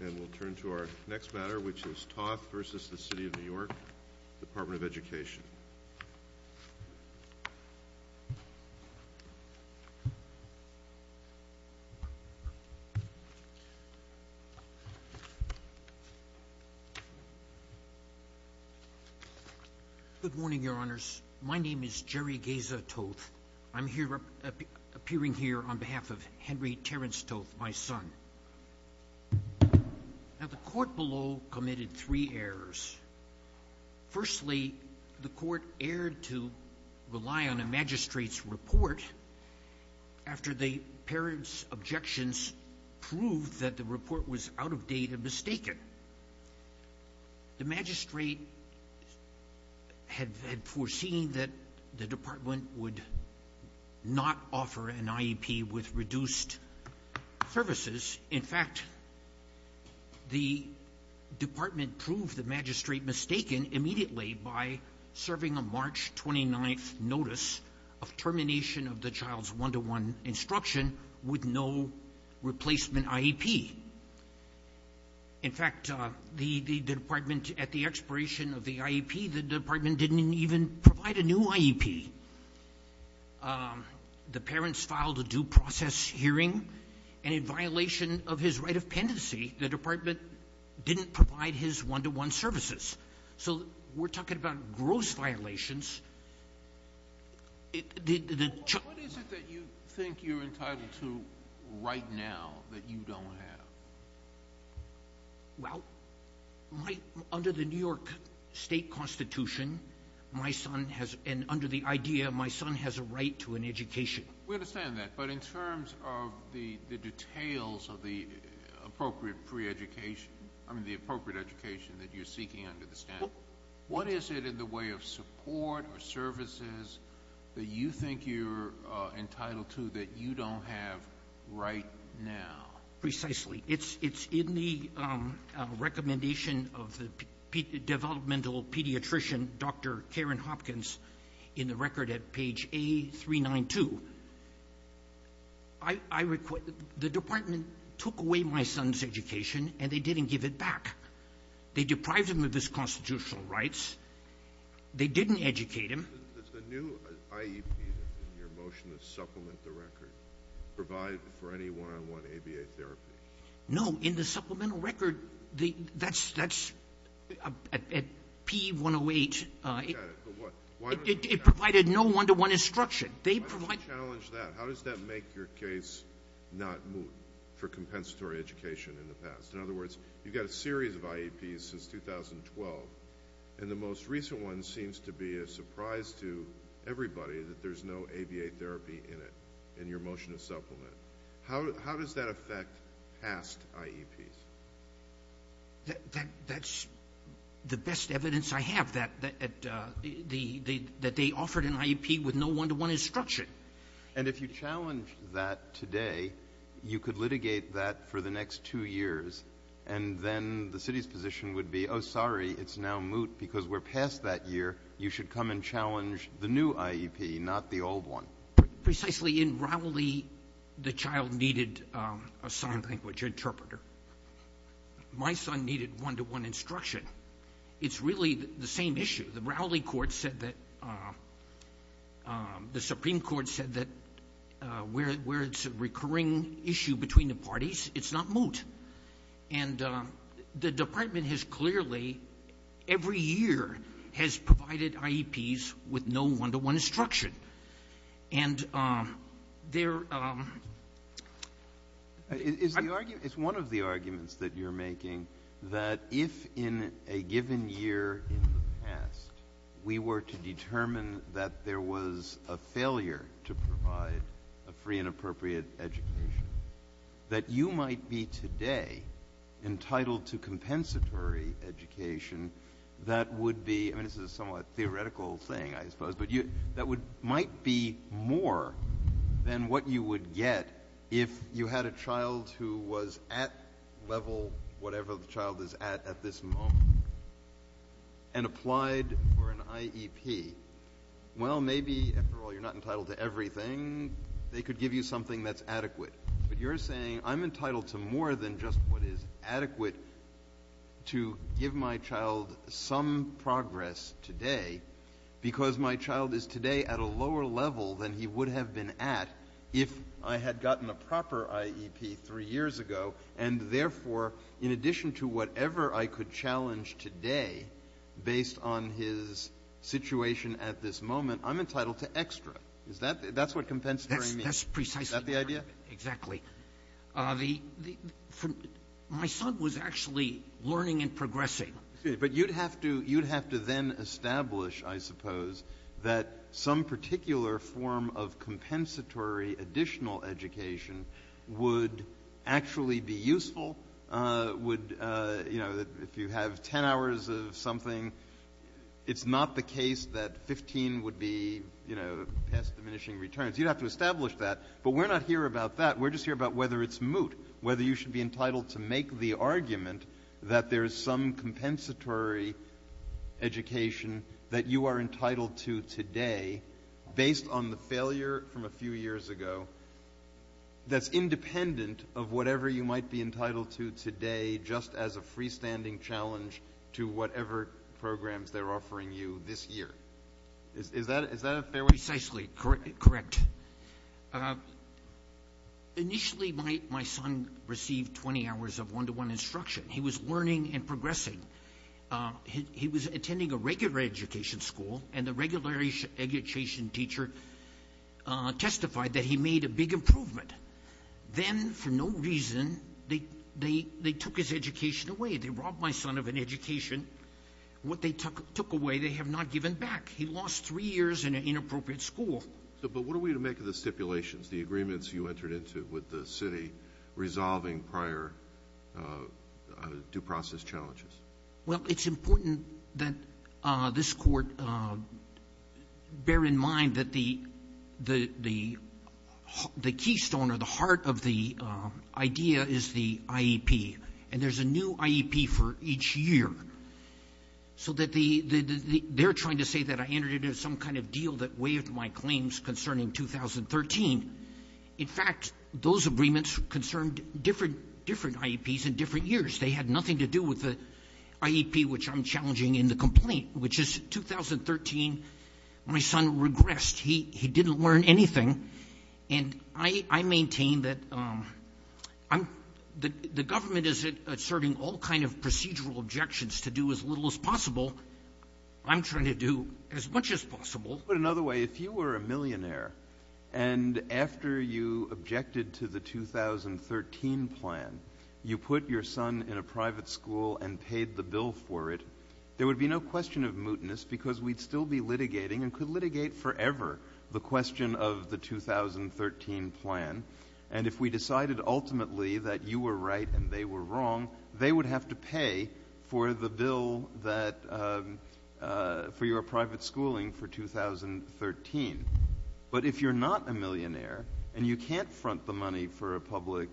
And we'll turn to our next matter, which is Toth v. The City of New York, Department of Education. Good morning, your honors. My name is Jerry Geza Toth. I'm appearing here on behalf of Henry Terence Toth, my son. Now, the court below committed three errors. Firstly, the court erred to rely on a magistrate's report after the parent's objections proved that the report was out of date and mistaken. The magistrate had foreseen that the department would not offer an IEP with reduced services. In fact, the department proved the magistrate mistaken immediately by serving a March 29th notice of termination of the child's one-to-one instruction with no replacement IEP. In fact, at the expiration of the IEP, the department didn't even provide a new IEP. The parents filed a due process hearing. And in violation of his right of pendency, the department didn't provide his one-to-one services. So we're talking about gross violations. What is it that you think you're entitled to right now that you don't have? Well, under the New York state constitution, my son has, and under the idea, my son has a right to an education. We understand that. But in terms of the details of the appropriate education that you're seeking under the statute, what is it in the way of support or services that you think you're entitled to that you don't have right now? Precisely. It's in the recommendation of the developmental pediatrician, Dr. Karen Hopkins, in the record at page A392. The department took away my son's education, and they didn't give it back. They deprived him of his constitutional rights. They didn't educate him. Does the new IEP in your motion that supplement the record provide for any one-on-one ABA therapy? No. In the supplemental record, that's at P108. It provided no one-to-one instruction. They provide- Why does it challenge that? How does that make your case not moot for compensatory education in the past? In other words, you've got a series of IEPs since 2012, and the most recent one seems to be a surprise to everybody that there's no ABA therapy in it in your motion to supplement. How does that affect past IEPs? That's the best evidence I have, that they offered an IEP with no one-to-one instruction. And if you challenge that today, you could litigate that for the next two years, and then the city's position would be, oh, sorry, it's now moot because we're past that year. You should come and challenge the new IEP, not the old one. Precisely in Rowley, the child needed a sign language interpreter. My son needed one-to-one instruction. It's really the same issue. The Rowley court said that- the Supreme Court said that where it's a recurring issue between the parties, it's not moot. And the department has clearly, every year, has provided IEPs with no one-to-one instruction. And they're- It's one of the arguments that you're making, that if in a given year in the past we were to determine that there was a failure to provide a free and appropriate education, that you might be today entitled to compensatory education that would be- I mean, this is a somewhat theoretical thing, I suppose, but that might be more than what you would get if you had a child who was at level whatever the child is at at this moment and applied for an IEP. Well, maybe, after all, you're not entitled to everything. They could give you something that's adequate. But you're saying, I'm entitled to more than just what is adequate to give my child some progress today because my child is today at a lower level than he would have been at if I had gotten a proper IEP three years ago, and therefore, in addition to whatever I could challenge today based on his situation at this moment, I'm entitled to extra. Is that the -? That's what compensatory means. That's precisely- Is that the idea? The -. My son was actually learning and progressing. But you'd have to then establish, I suppose, that some particular form of compensatory additional education would actually be useful. Would, you know, if you have 10 hours of something, it's not the case that 15 would be, you know, past diminishing returns. You'd have to establish that. But we're not here about that. We're just here about whether it's moot, whether you should be entitled to make the argument that there is some compensatory education that you are entitled to today based on the failure from a few years ago that's independent of whatever you might be entitled to today just as a freestanding challenge to whatever programs they're offering you this year. Is that a fair way- Precisely correct. Initially, my son received 20 hours of one-to-one instruction. He was learning and progressing. He was attending a regular education school, and the regular education teacher testified that he made a big improvement. Then, for no reason, they took his education away. They robbed my son of an education. What they took away, they have not given back. He lost three years in an inappropriate school. But what are we to make of the stipulations, the agreements you entered into with the city resolving prior due process challenges? Well, it's important that this Court bear in mind that the keystone or the heart of the idea is the IEP, and there's a new IEP for each year, so that the they're trying to say that I entered into some kind of deal that waived my claims concerning 2013. In fact, those agreements concerned different IEPs in different years. They had nothing to do with the IEP, which I'm challenging in the complaint, which is 2013. My son regressed. He didn't learn anything, and I maintain that the government is asserting all kind of procedural objections to do as little as possible. I'm trying to do as much as possible. Put another way, if you were a millionaire, and after you objected to the 2013 plan, you put your son in a private school and paid the bill for it, there would be no question of mootness because we'd still be litigating and could litigate forever the question of the 2013 plan. And if we decided ultimately that you were right and they were wrong, they would have to pay for the bill that for your private schooling for 2013. But if you're not a millionaire and you can't front the money for a public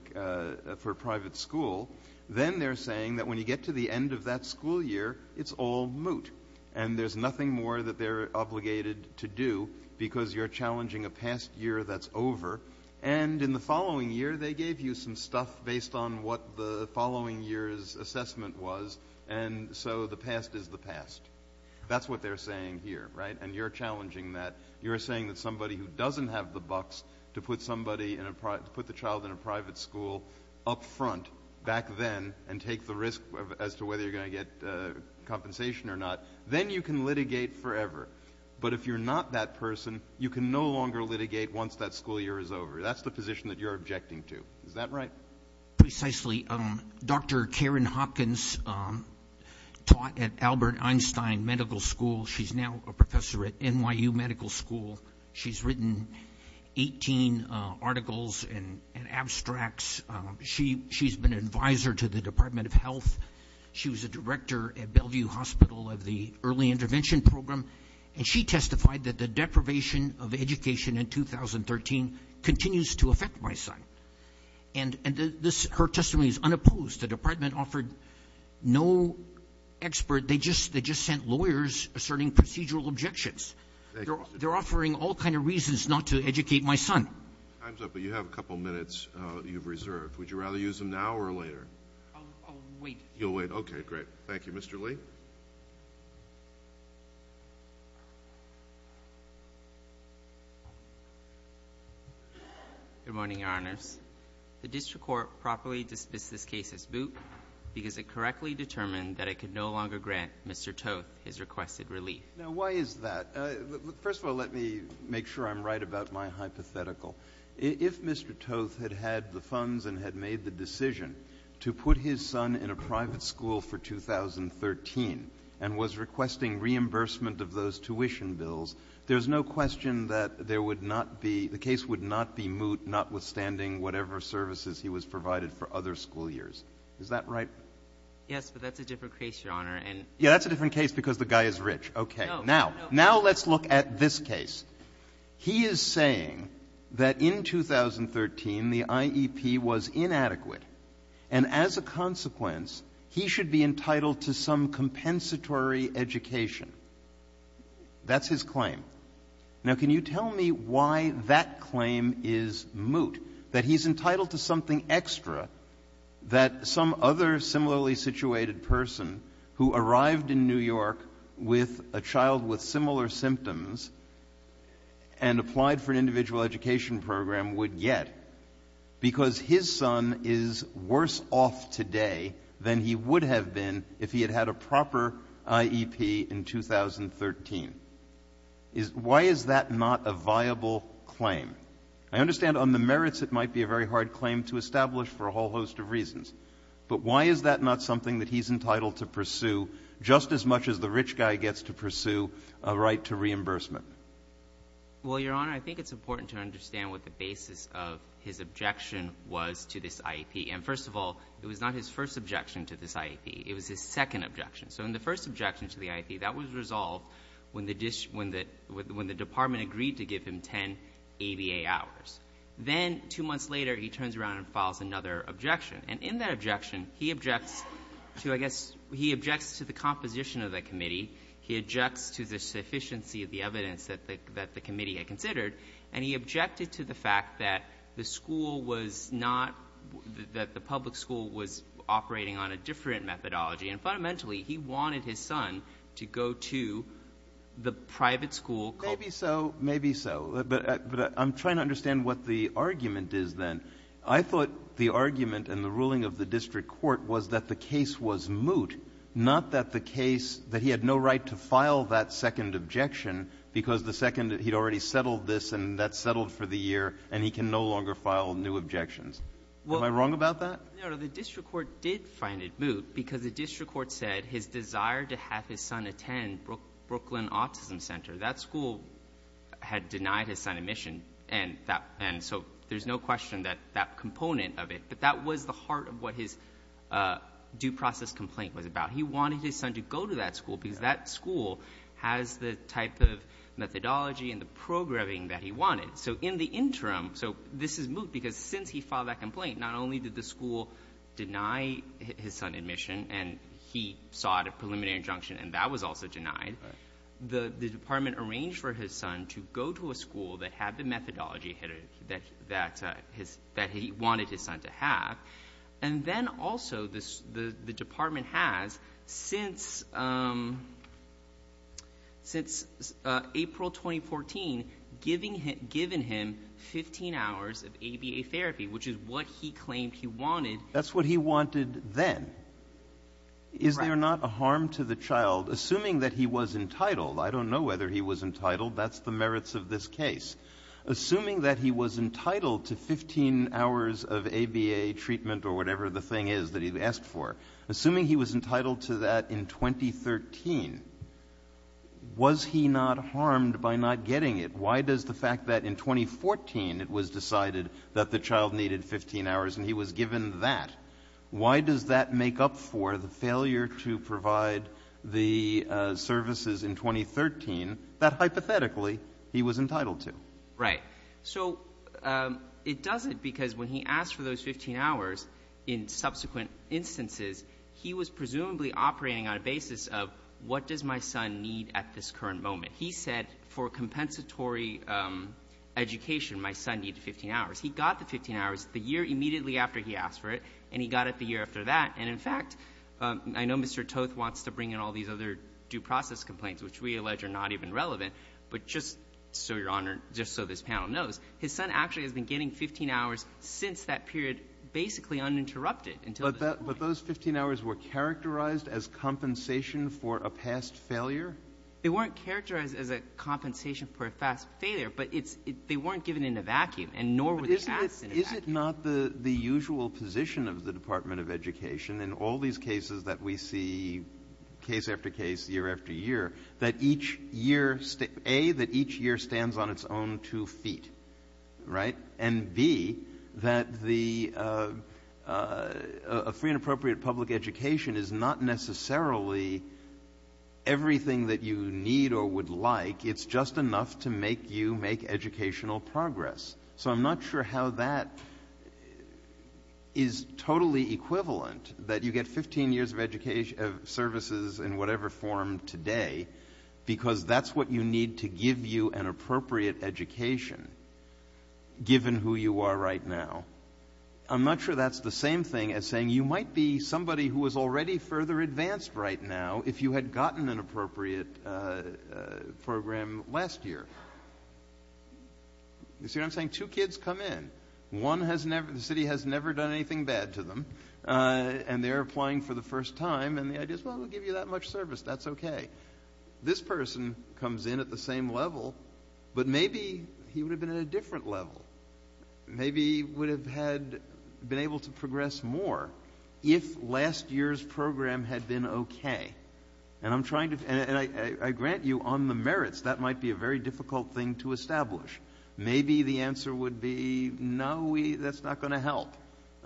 for private school, then they're saying that when you get to the end of that school year, it's all moot. And there's nothing more that they're obligated to do because you're challenging a past year that's over. And in the following year, they gave you some stuff based on what the following year's and so the past is the past. That's what they're saying here, right? And you're challenging that. You're saying that somebody who doesn't have the bucks to put somebody in a put the child in a private school up front back then and take the risk as to whether you're going to get compensation or not, then you can litigate forever. But if you're not that person, you can no longer litigate once that school year is over. That's the position that you're objecting to. Is that right? Precisely. Dr. Karen Hopkins taught at Albert Einstein Medical School. She's now a professor at NYU Medical School. She's written 18 articles and abstracts. She's been an advisor to the Department of Health. She was a director at Bellevue Hospital of the Early Intervention Program. And she testified that the deprivation of education in 2013 continues to affect my son. And her testimony is unopposed. The department offered no expert. They just sent lawyers asserting procedural objections. They're offering all kinds of reasons not to educate my son. Time's up, but you have a couple minutes you've reserved. Would you rather use them now or later? I'll wait. You'll wait. Okay, great. Thank you. Mr. Lee. Good morning, Your Honors. The district court properly dismissed this case as boot because it correctly determined that it could no longer grant Mr. Toth his requested relief. Now, why is that? First of all, let me make sure I'm right about my hypothetical. If Mr. Toth had had the funds and had made the decision to put his son in a private school for 2013 and was requesting reimbursement of those tuition bills, there's no question that there would not be the case would not be moot, notwithstanding whatever services he was provided for other school years. Is that right? Yes, but that's a different case, Your Honor. Yeah, that's a different case because the guy is rich. Okay. No, no. Now let's look at this case. He is saying that in 2013, the IEP was inadequate. And as a consequence, he should be entitled to some compensatory education. That's his claim. Now, can you tell me why that claim is moot, that he's entitled to something extra that some other similarly situated person who arrived in New York with a child with similar worse off today than he would have been if he had had a proper IEP in 2013? Why is that not a viable claim? I understand on the merits it might be a very hard claim to establish for a whole host of reasons, but why is that not something that he's entitled to pursue just as much as the rich guy gets to pursue a right to reimbursement? Well, Your Honor, I think it's important to understand what the basis of his objection was to this IEP. And first of all, it was not his first objection to this IEP. It was his second objection. So in the first objection to the IEP, that was resolved when the department agreed to give him 10 ABA hours. Then two months later, he turns around and files another objection. And in that objection, he objects to, I guess, he objects to the composition of the committee. He objects to the sufficiency of the evidence that the committee had considered. And he objected to the fact that the school was not that the public school was operating on a different methodology. And fundamentally, he wanted his son to go to the private school. Maybe so. Maybe so. But I'm trying to understand what the argument is then. I thought the argument and the ruling of the district court was that the case was moot, not that the case that he had no right to file that second objection because the second he'd already settled this and that settled for the year and he can no longer file new objections. Am I wrong about that? The district court did find it moot because the district court said his desire to have his son attend Brooklyn Autism Center, that school had denied his son admission. And so there's no question that that component of it, but that was the heart of what his due process complaint was about. He wanted his son to go to that school because that school has the type of methodology and the programming that he wanted. So in the interim, so this is moot because since he filed that complaint, not only did the school deny his son admission and he sought a preliminary injunction and that was also denied, the department arranged for his son to go to a school that had the methodology that he wanted his son to have. And then also the department has since April 2014 given him 15 hours of ABA therapy, which is what he claimed he wanted. That's what he wanted then. Is there not a harm to the child, assuming that he was entitled, I don't know whether he was entitled, that's the merits of this case. Assuming that he was entitled to 15 hours of ABA treatment or whatever the thing is that he asked for, assuming he was entitled to that in 2013, was he not harmed by not getting it? Why does the fact that in 2014 it was decided that the child needed 15 hours and he was given that, why does that make up for the failure to provide the services in 2013 that hypothetically he was entitled to? Right. So it doesn't because when he asked for those 15 hours in subsequent instances, he was presumably operating on a basis of what does my son need at this current moment. He said for compensatory education my son needed 15 hours. He got the 15 hours the year immediately after he asked for it and he got it the year after that. And in fact, I know Mr. Toth wants to bring in all these other due process complaints which we allege are not even relevant, but just so your honor, just so this panel knows, his son actually has been getting 15 hours since that period basically uninterrupted until this point. But those 15 hours were characterized as compensation for a past failure? They weren't characterized as a compensation for a past failure, but they weren't given in a vacuum and nor were they asked in a vacuum. But is it not the usual position of the Department of Education in all these cases that we see case after case, year after year, that each year, A, that each year stands on its own two feet, right? And B, that a free and appropriate public education is not necessarily everything that you need or would like. It's just enough to make you make educational progress. So I'm not sure how that is totally equivalent, that you get 15 years of services in whatever form today because that's what you need to give you an appropriate education given who you are right now. I'm not sure that's the same thing as saying you might be somebody who was already further advanced right now if you had gotten an appropriate program last year. You see what I'm saying? Two kids come in. One has never, the city has never done anything bad to them and they're applying for the first time and the idea is, well, we'll give you that much service, that's okay. This person comes in at the same level, but maybe he would have been at a different level, maybe would have had been able to progress more if last year's program had been okay. And I'm trying to, and I grant you on the merits, that might be a very difficult thing to establish. Maybe the answer would be, no, that's not going to help.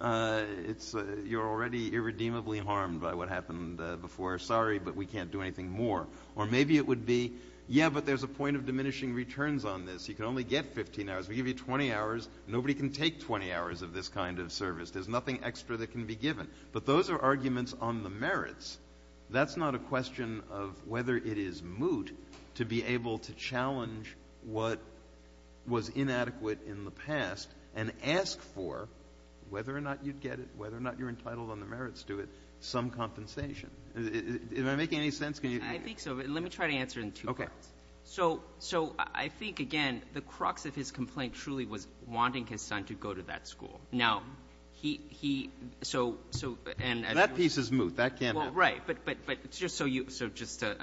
You're already irredeemably harmed by what happened before. Sorry, but we can't do anything more. Or maybe it would be, yeah, but there's a point of diminishing returns on this. You can only get 15 hours. We give you 20 hours. Nobody can take 20 hours of this kind of service. There's nothing extra that can be given. But those are arguments on the merits. That's not a question of whether it is moot to be able to was inadequate in the past and ask for, whether or not you'd get it, whether or not you're entitled on the merits to it, some compensation. Am I making any sense? Can you? I think so. Let me try to answer in two parts. Okay. So I think, again, the crux of his complaint truly was wanting his son to go to that school. Now, he, so... That piece is moot. That can happen. Right. But just so you, so just to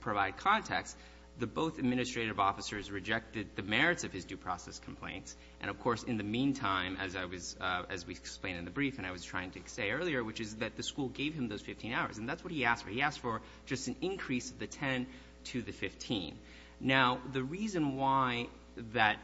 provide context, the both administrative officers rejected the merits of his due process complaints. And of course, in the meantime, as I was, as we explained in the brief, and I was trying to say earlier, which is that the school gave him those 15 hours. And that's what he asked for. He asked for just an increase of the 10 to the 15. Now, the reason why that,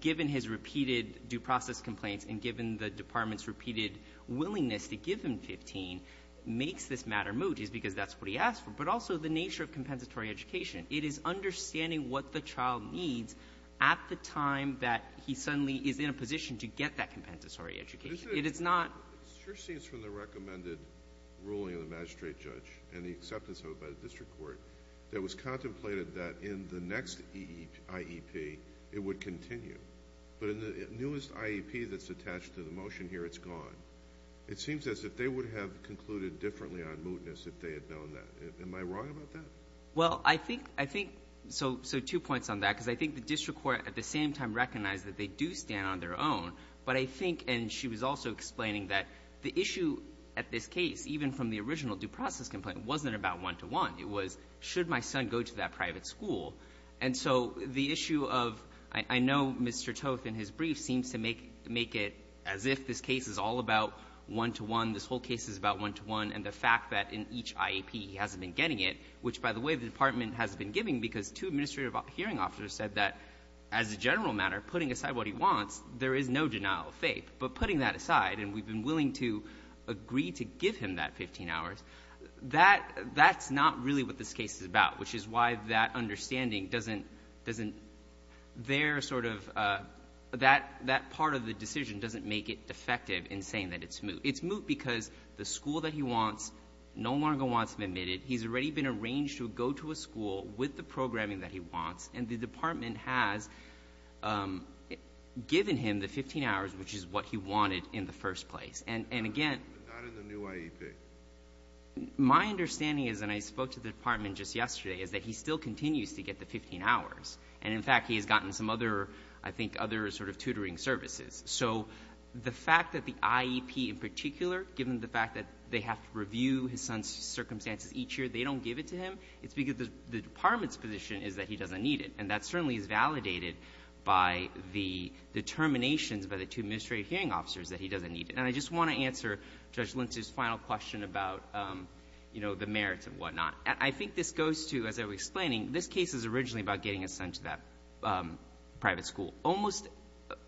given his repeated due process complaints and given the department's repeated willingness to give him 15 makes this matter moot is because that's what he asked for. Also, the nature of compensatory education, it is understanding what the child needs at the time that he suddenly is in a position to get that compensatory education. It is not... It sure seems from the recommended ruling of the magistrate judge and the acceptance of it by the district court that it was contemplated that in the next IEP, it would continue. But in the newest IEP that's attached to the motion here, it's gone. It seems as if they would have concluded differently on mootness if they had known that. Am I wrong about that? Well, I think... So two points on that. Because I think the district court at the same time recognized that they do stand on their own. But I think, and she was also explaining that, the issue at this case, even from the original due process complaint, wasn't about one-to-one. It was, should my son go to that private school? And so the issue of... I know Mr. Toth in his and the fact that in each IEP he hasn't been getting it, which, by the way, the department hasn't been giving because two administrative hearing officers said that, as a general matter, putting aside what he wants, there is no denial of faith. But putting that aside, and we've been willing to agree to give him that 15 hours, that's not really what this case is about, which is why that understanding doesn't... Their sort of... That part of the decision doesn't make it defective in saying that it's moot. It's moot because the school that he wants no longer wants him admitted. He's already been arranged to go to a school with the programming that he wants, and the department has given him the 15 hours, which is what he wanted in the first place. And again... But not in the new IEP. My understanding is, and I spoke to the department just yesterday, is that he still continues to get the 15 hours. And in fact, he has gotten some other, I think, other sort of tutoring services. So the fact that the IEP, in particular, given the fact that they have to review his son's circumstances each year, they don't give it to him. It's because the department's position is that he doesn't need it. And that certainly is validated by the determinations by the two administrative hearing officers that he doesn't need it. And I just want to answer Judge Lentz's final question about the merits and whatnot. I think this goes to, as I was explaining, this case is originally about getting his son to that private school. Almost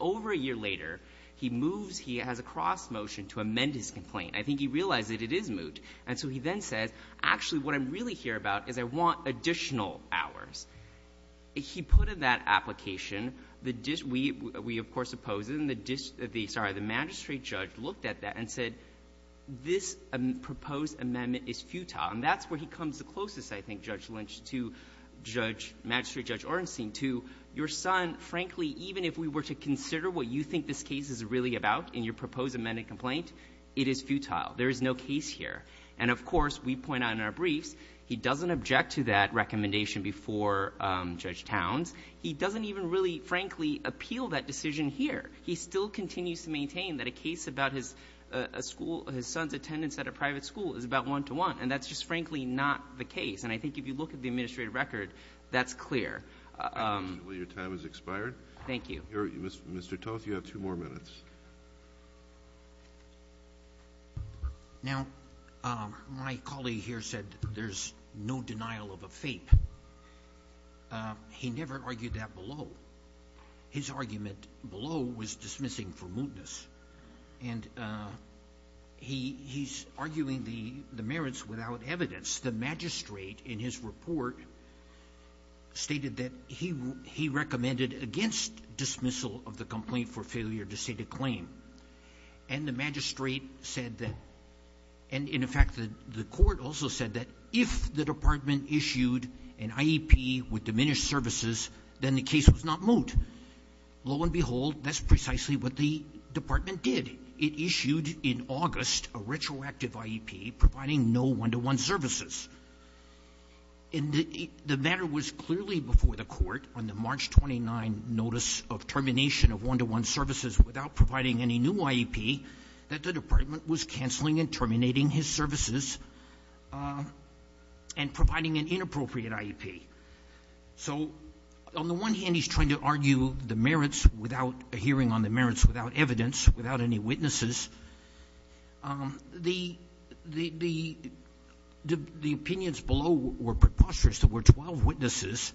over a year later, he moves, he has a cross motion to amend his complaint. I think he realized that it is moot. And so he then says, actually, what I'm really here about is I want additional hours. He put in that application. We, of course, oppose it. And the magistrate judge looked at that and said, this proposed amendment is futile. And that's where he comes the closest, I think, Judge Lentz, to Magistrate Judge Ornstein, to your son. Frankly, even if we were to consider what you think this case is really about in your proposed amended complaint, it is futile. There is no case here. And of course, we point out in our briefs, he doesn't object to that recommendation before Judge Towns. He doesn't even really, frankly, appeal that decision here. He still continues to maintain that a case about his son's attendance at a private school is about one-to-one. And that's just, frankly, not the case. And I think if you look at the administrative record, that's clear. Your time has expired. Thank you. Mr. Toth, you have two more minutes. Now, my colleague here said there's no denial of a fape. He never argued that below. His argument below was dismissing for mootness. And he's arguing the merits without evidence. The magistrate, in his report, stated that he recommended against dismissal of the complaint for failure to state a claim. And the magistrate said that, and in fact, the court also said that if the department issued an IEP with diminished services, then the case was not moot. Lo and behold, that's precisely what the department did. It issued in August a retroactive IEP providing no one-to-one services. And the matter was clearly before the court on the March 29 notice of termination of one-to-one services without providing any new IEP that the department was canceling and terminating his services and providing an inappropriate IEP. So on the one hand, he's trying to argue the merits without a hearing on the merits, without evidence, without any witnesses. The opinions below were preposterous. There were 12 witnesses.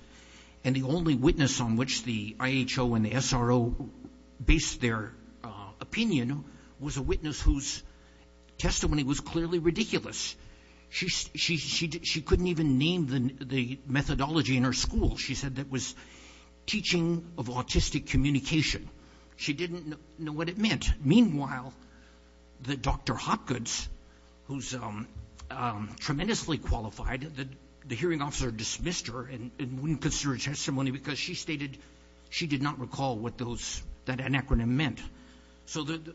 And the only witness on which the IHO and the SRO based their opinion was a witness whose testimony was clearly ridiculous. She couldn't even name the methodology in her school. She said it was teaching of autistic communication. She didn't know what it meant. Meanwhile, the Dr. Hopkins, who's tremendously qualified, the hearing officer dismissed her and wouldn't consider her testimony because she stated she did not recall what that acronym meant. So the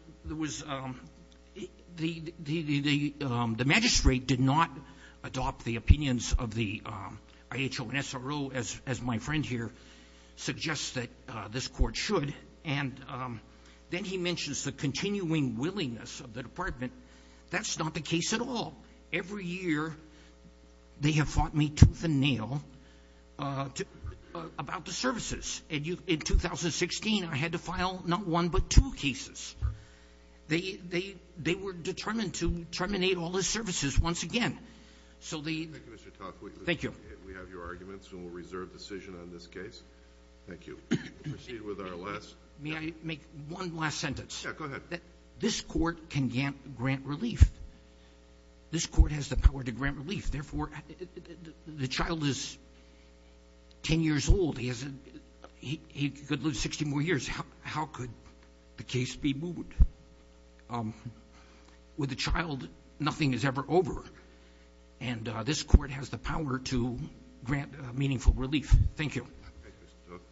magistrate did not adopt the opinions of the IHO and SRO as my friend here suggests that this court should. And then he mentions the continuing willingness of the department. That's not the case at all. Every year, they have fought me tooth and nail about the services. And in 2016, I had to file not one but two cases. They were determined to terminate all the services once again. So the — Kennedy. Thank you, Mr. Tocqueville. Tocqueville. Thank you. Kennedy. We have your arguments, and we'll reserve decision on this case. Thank you. We'll proceed with our last — Tocqueville. May I make one last sentence? Kennedy. Yeah. Go ahead. Tocqueville. This Court can grant relief. This Court has the power to grant relief. Therefore, the child is 10 years old. He could live 60 more years. How could the case be moved? With a child, nothing is ever over. And this Court has the power to grant meaningful relief. Thank you. Kennedy. Thank you, Mr. Tocqueville.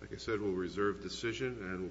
Like I said, we'll reserve decision, and we'll —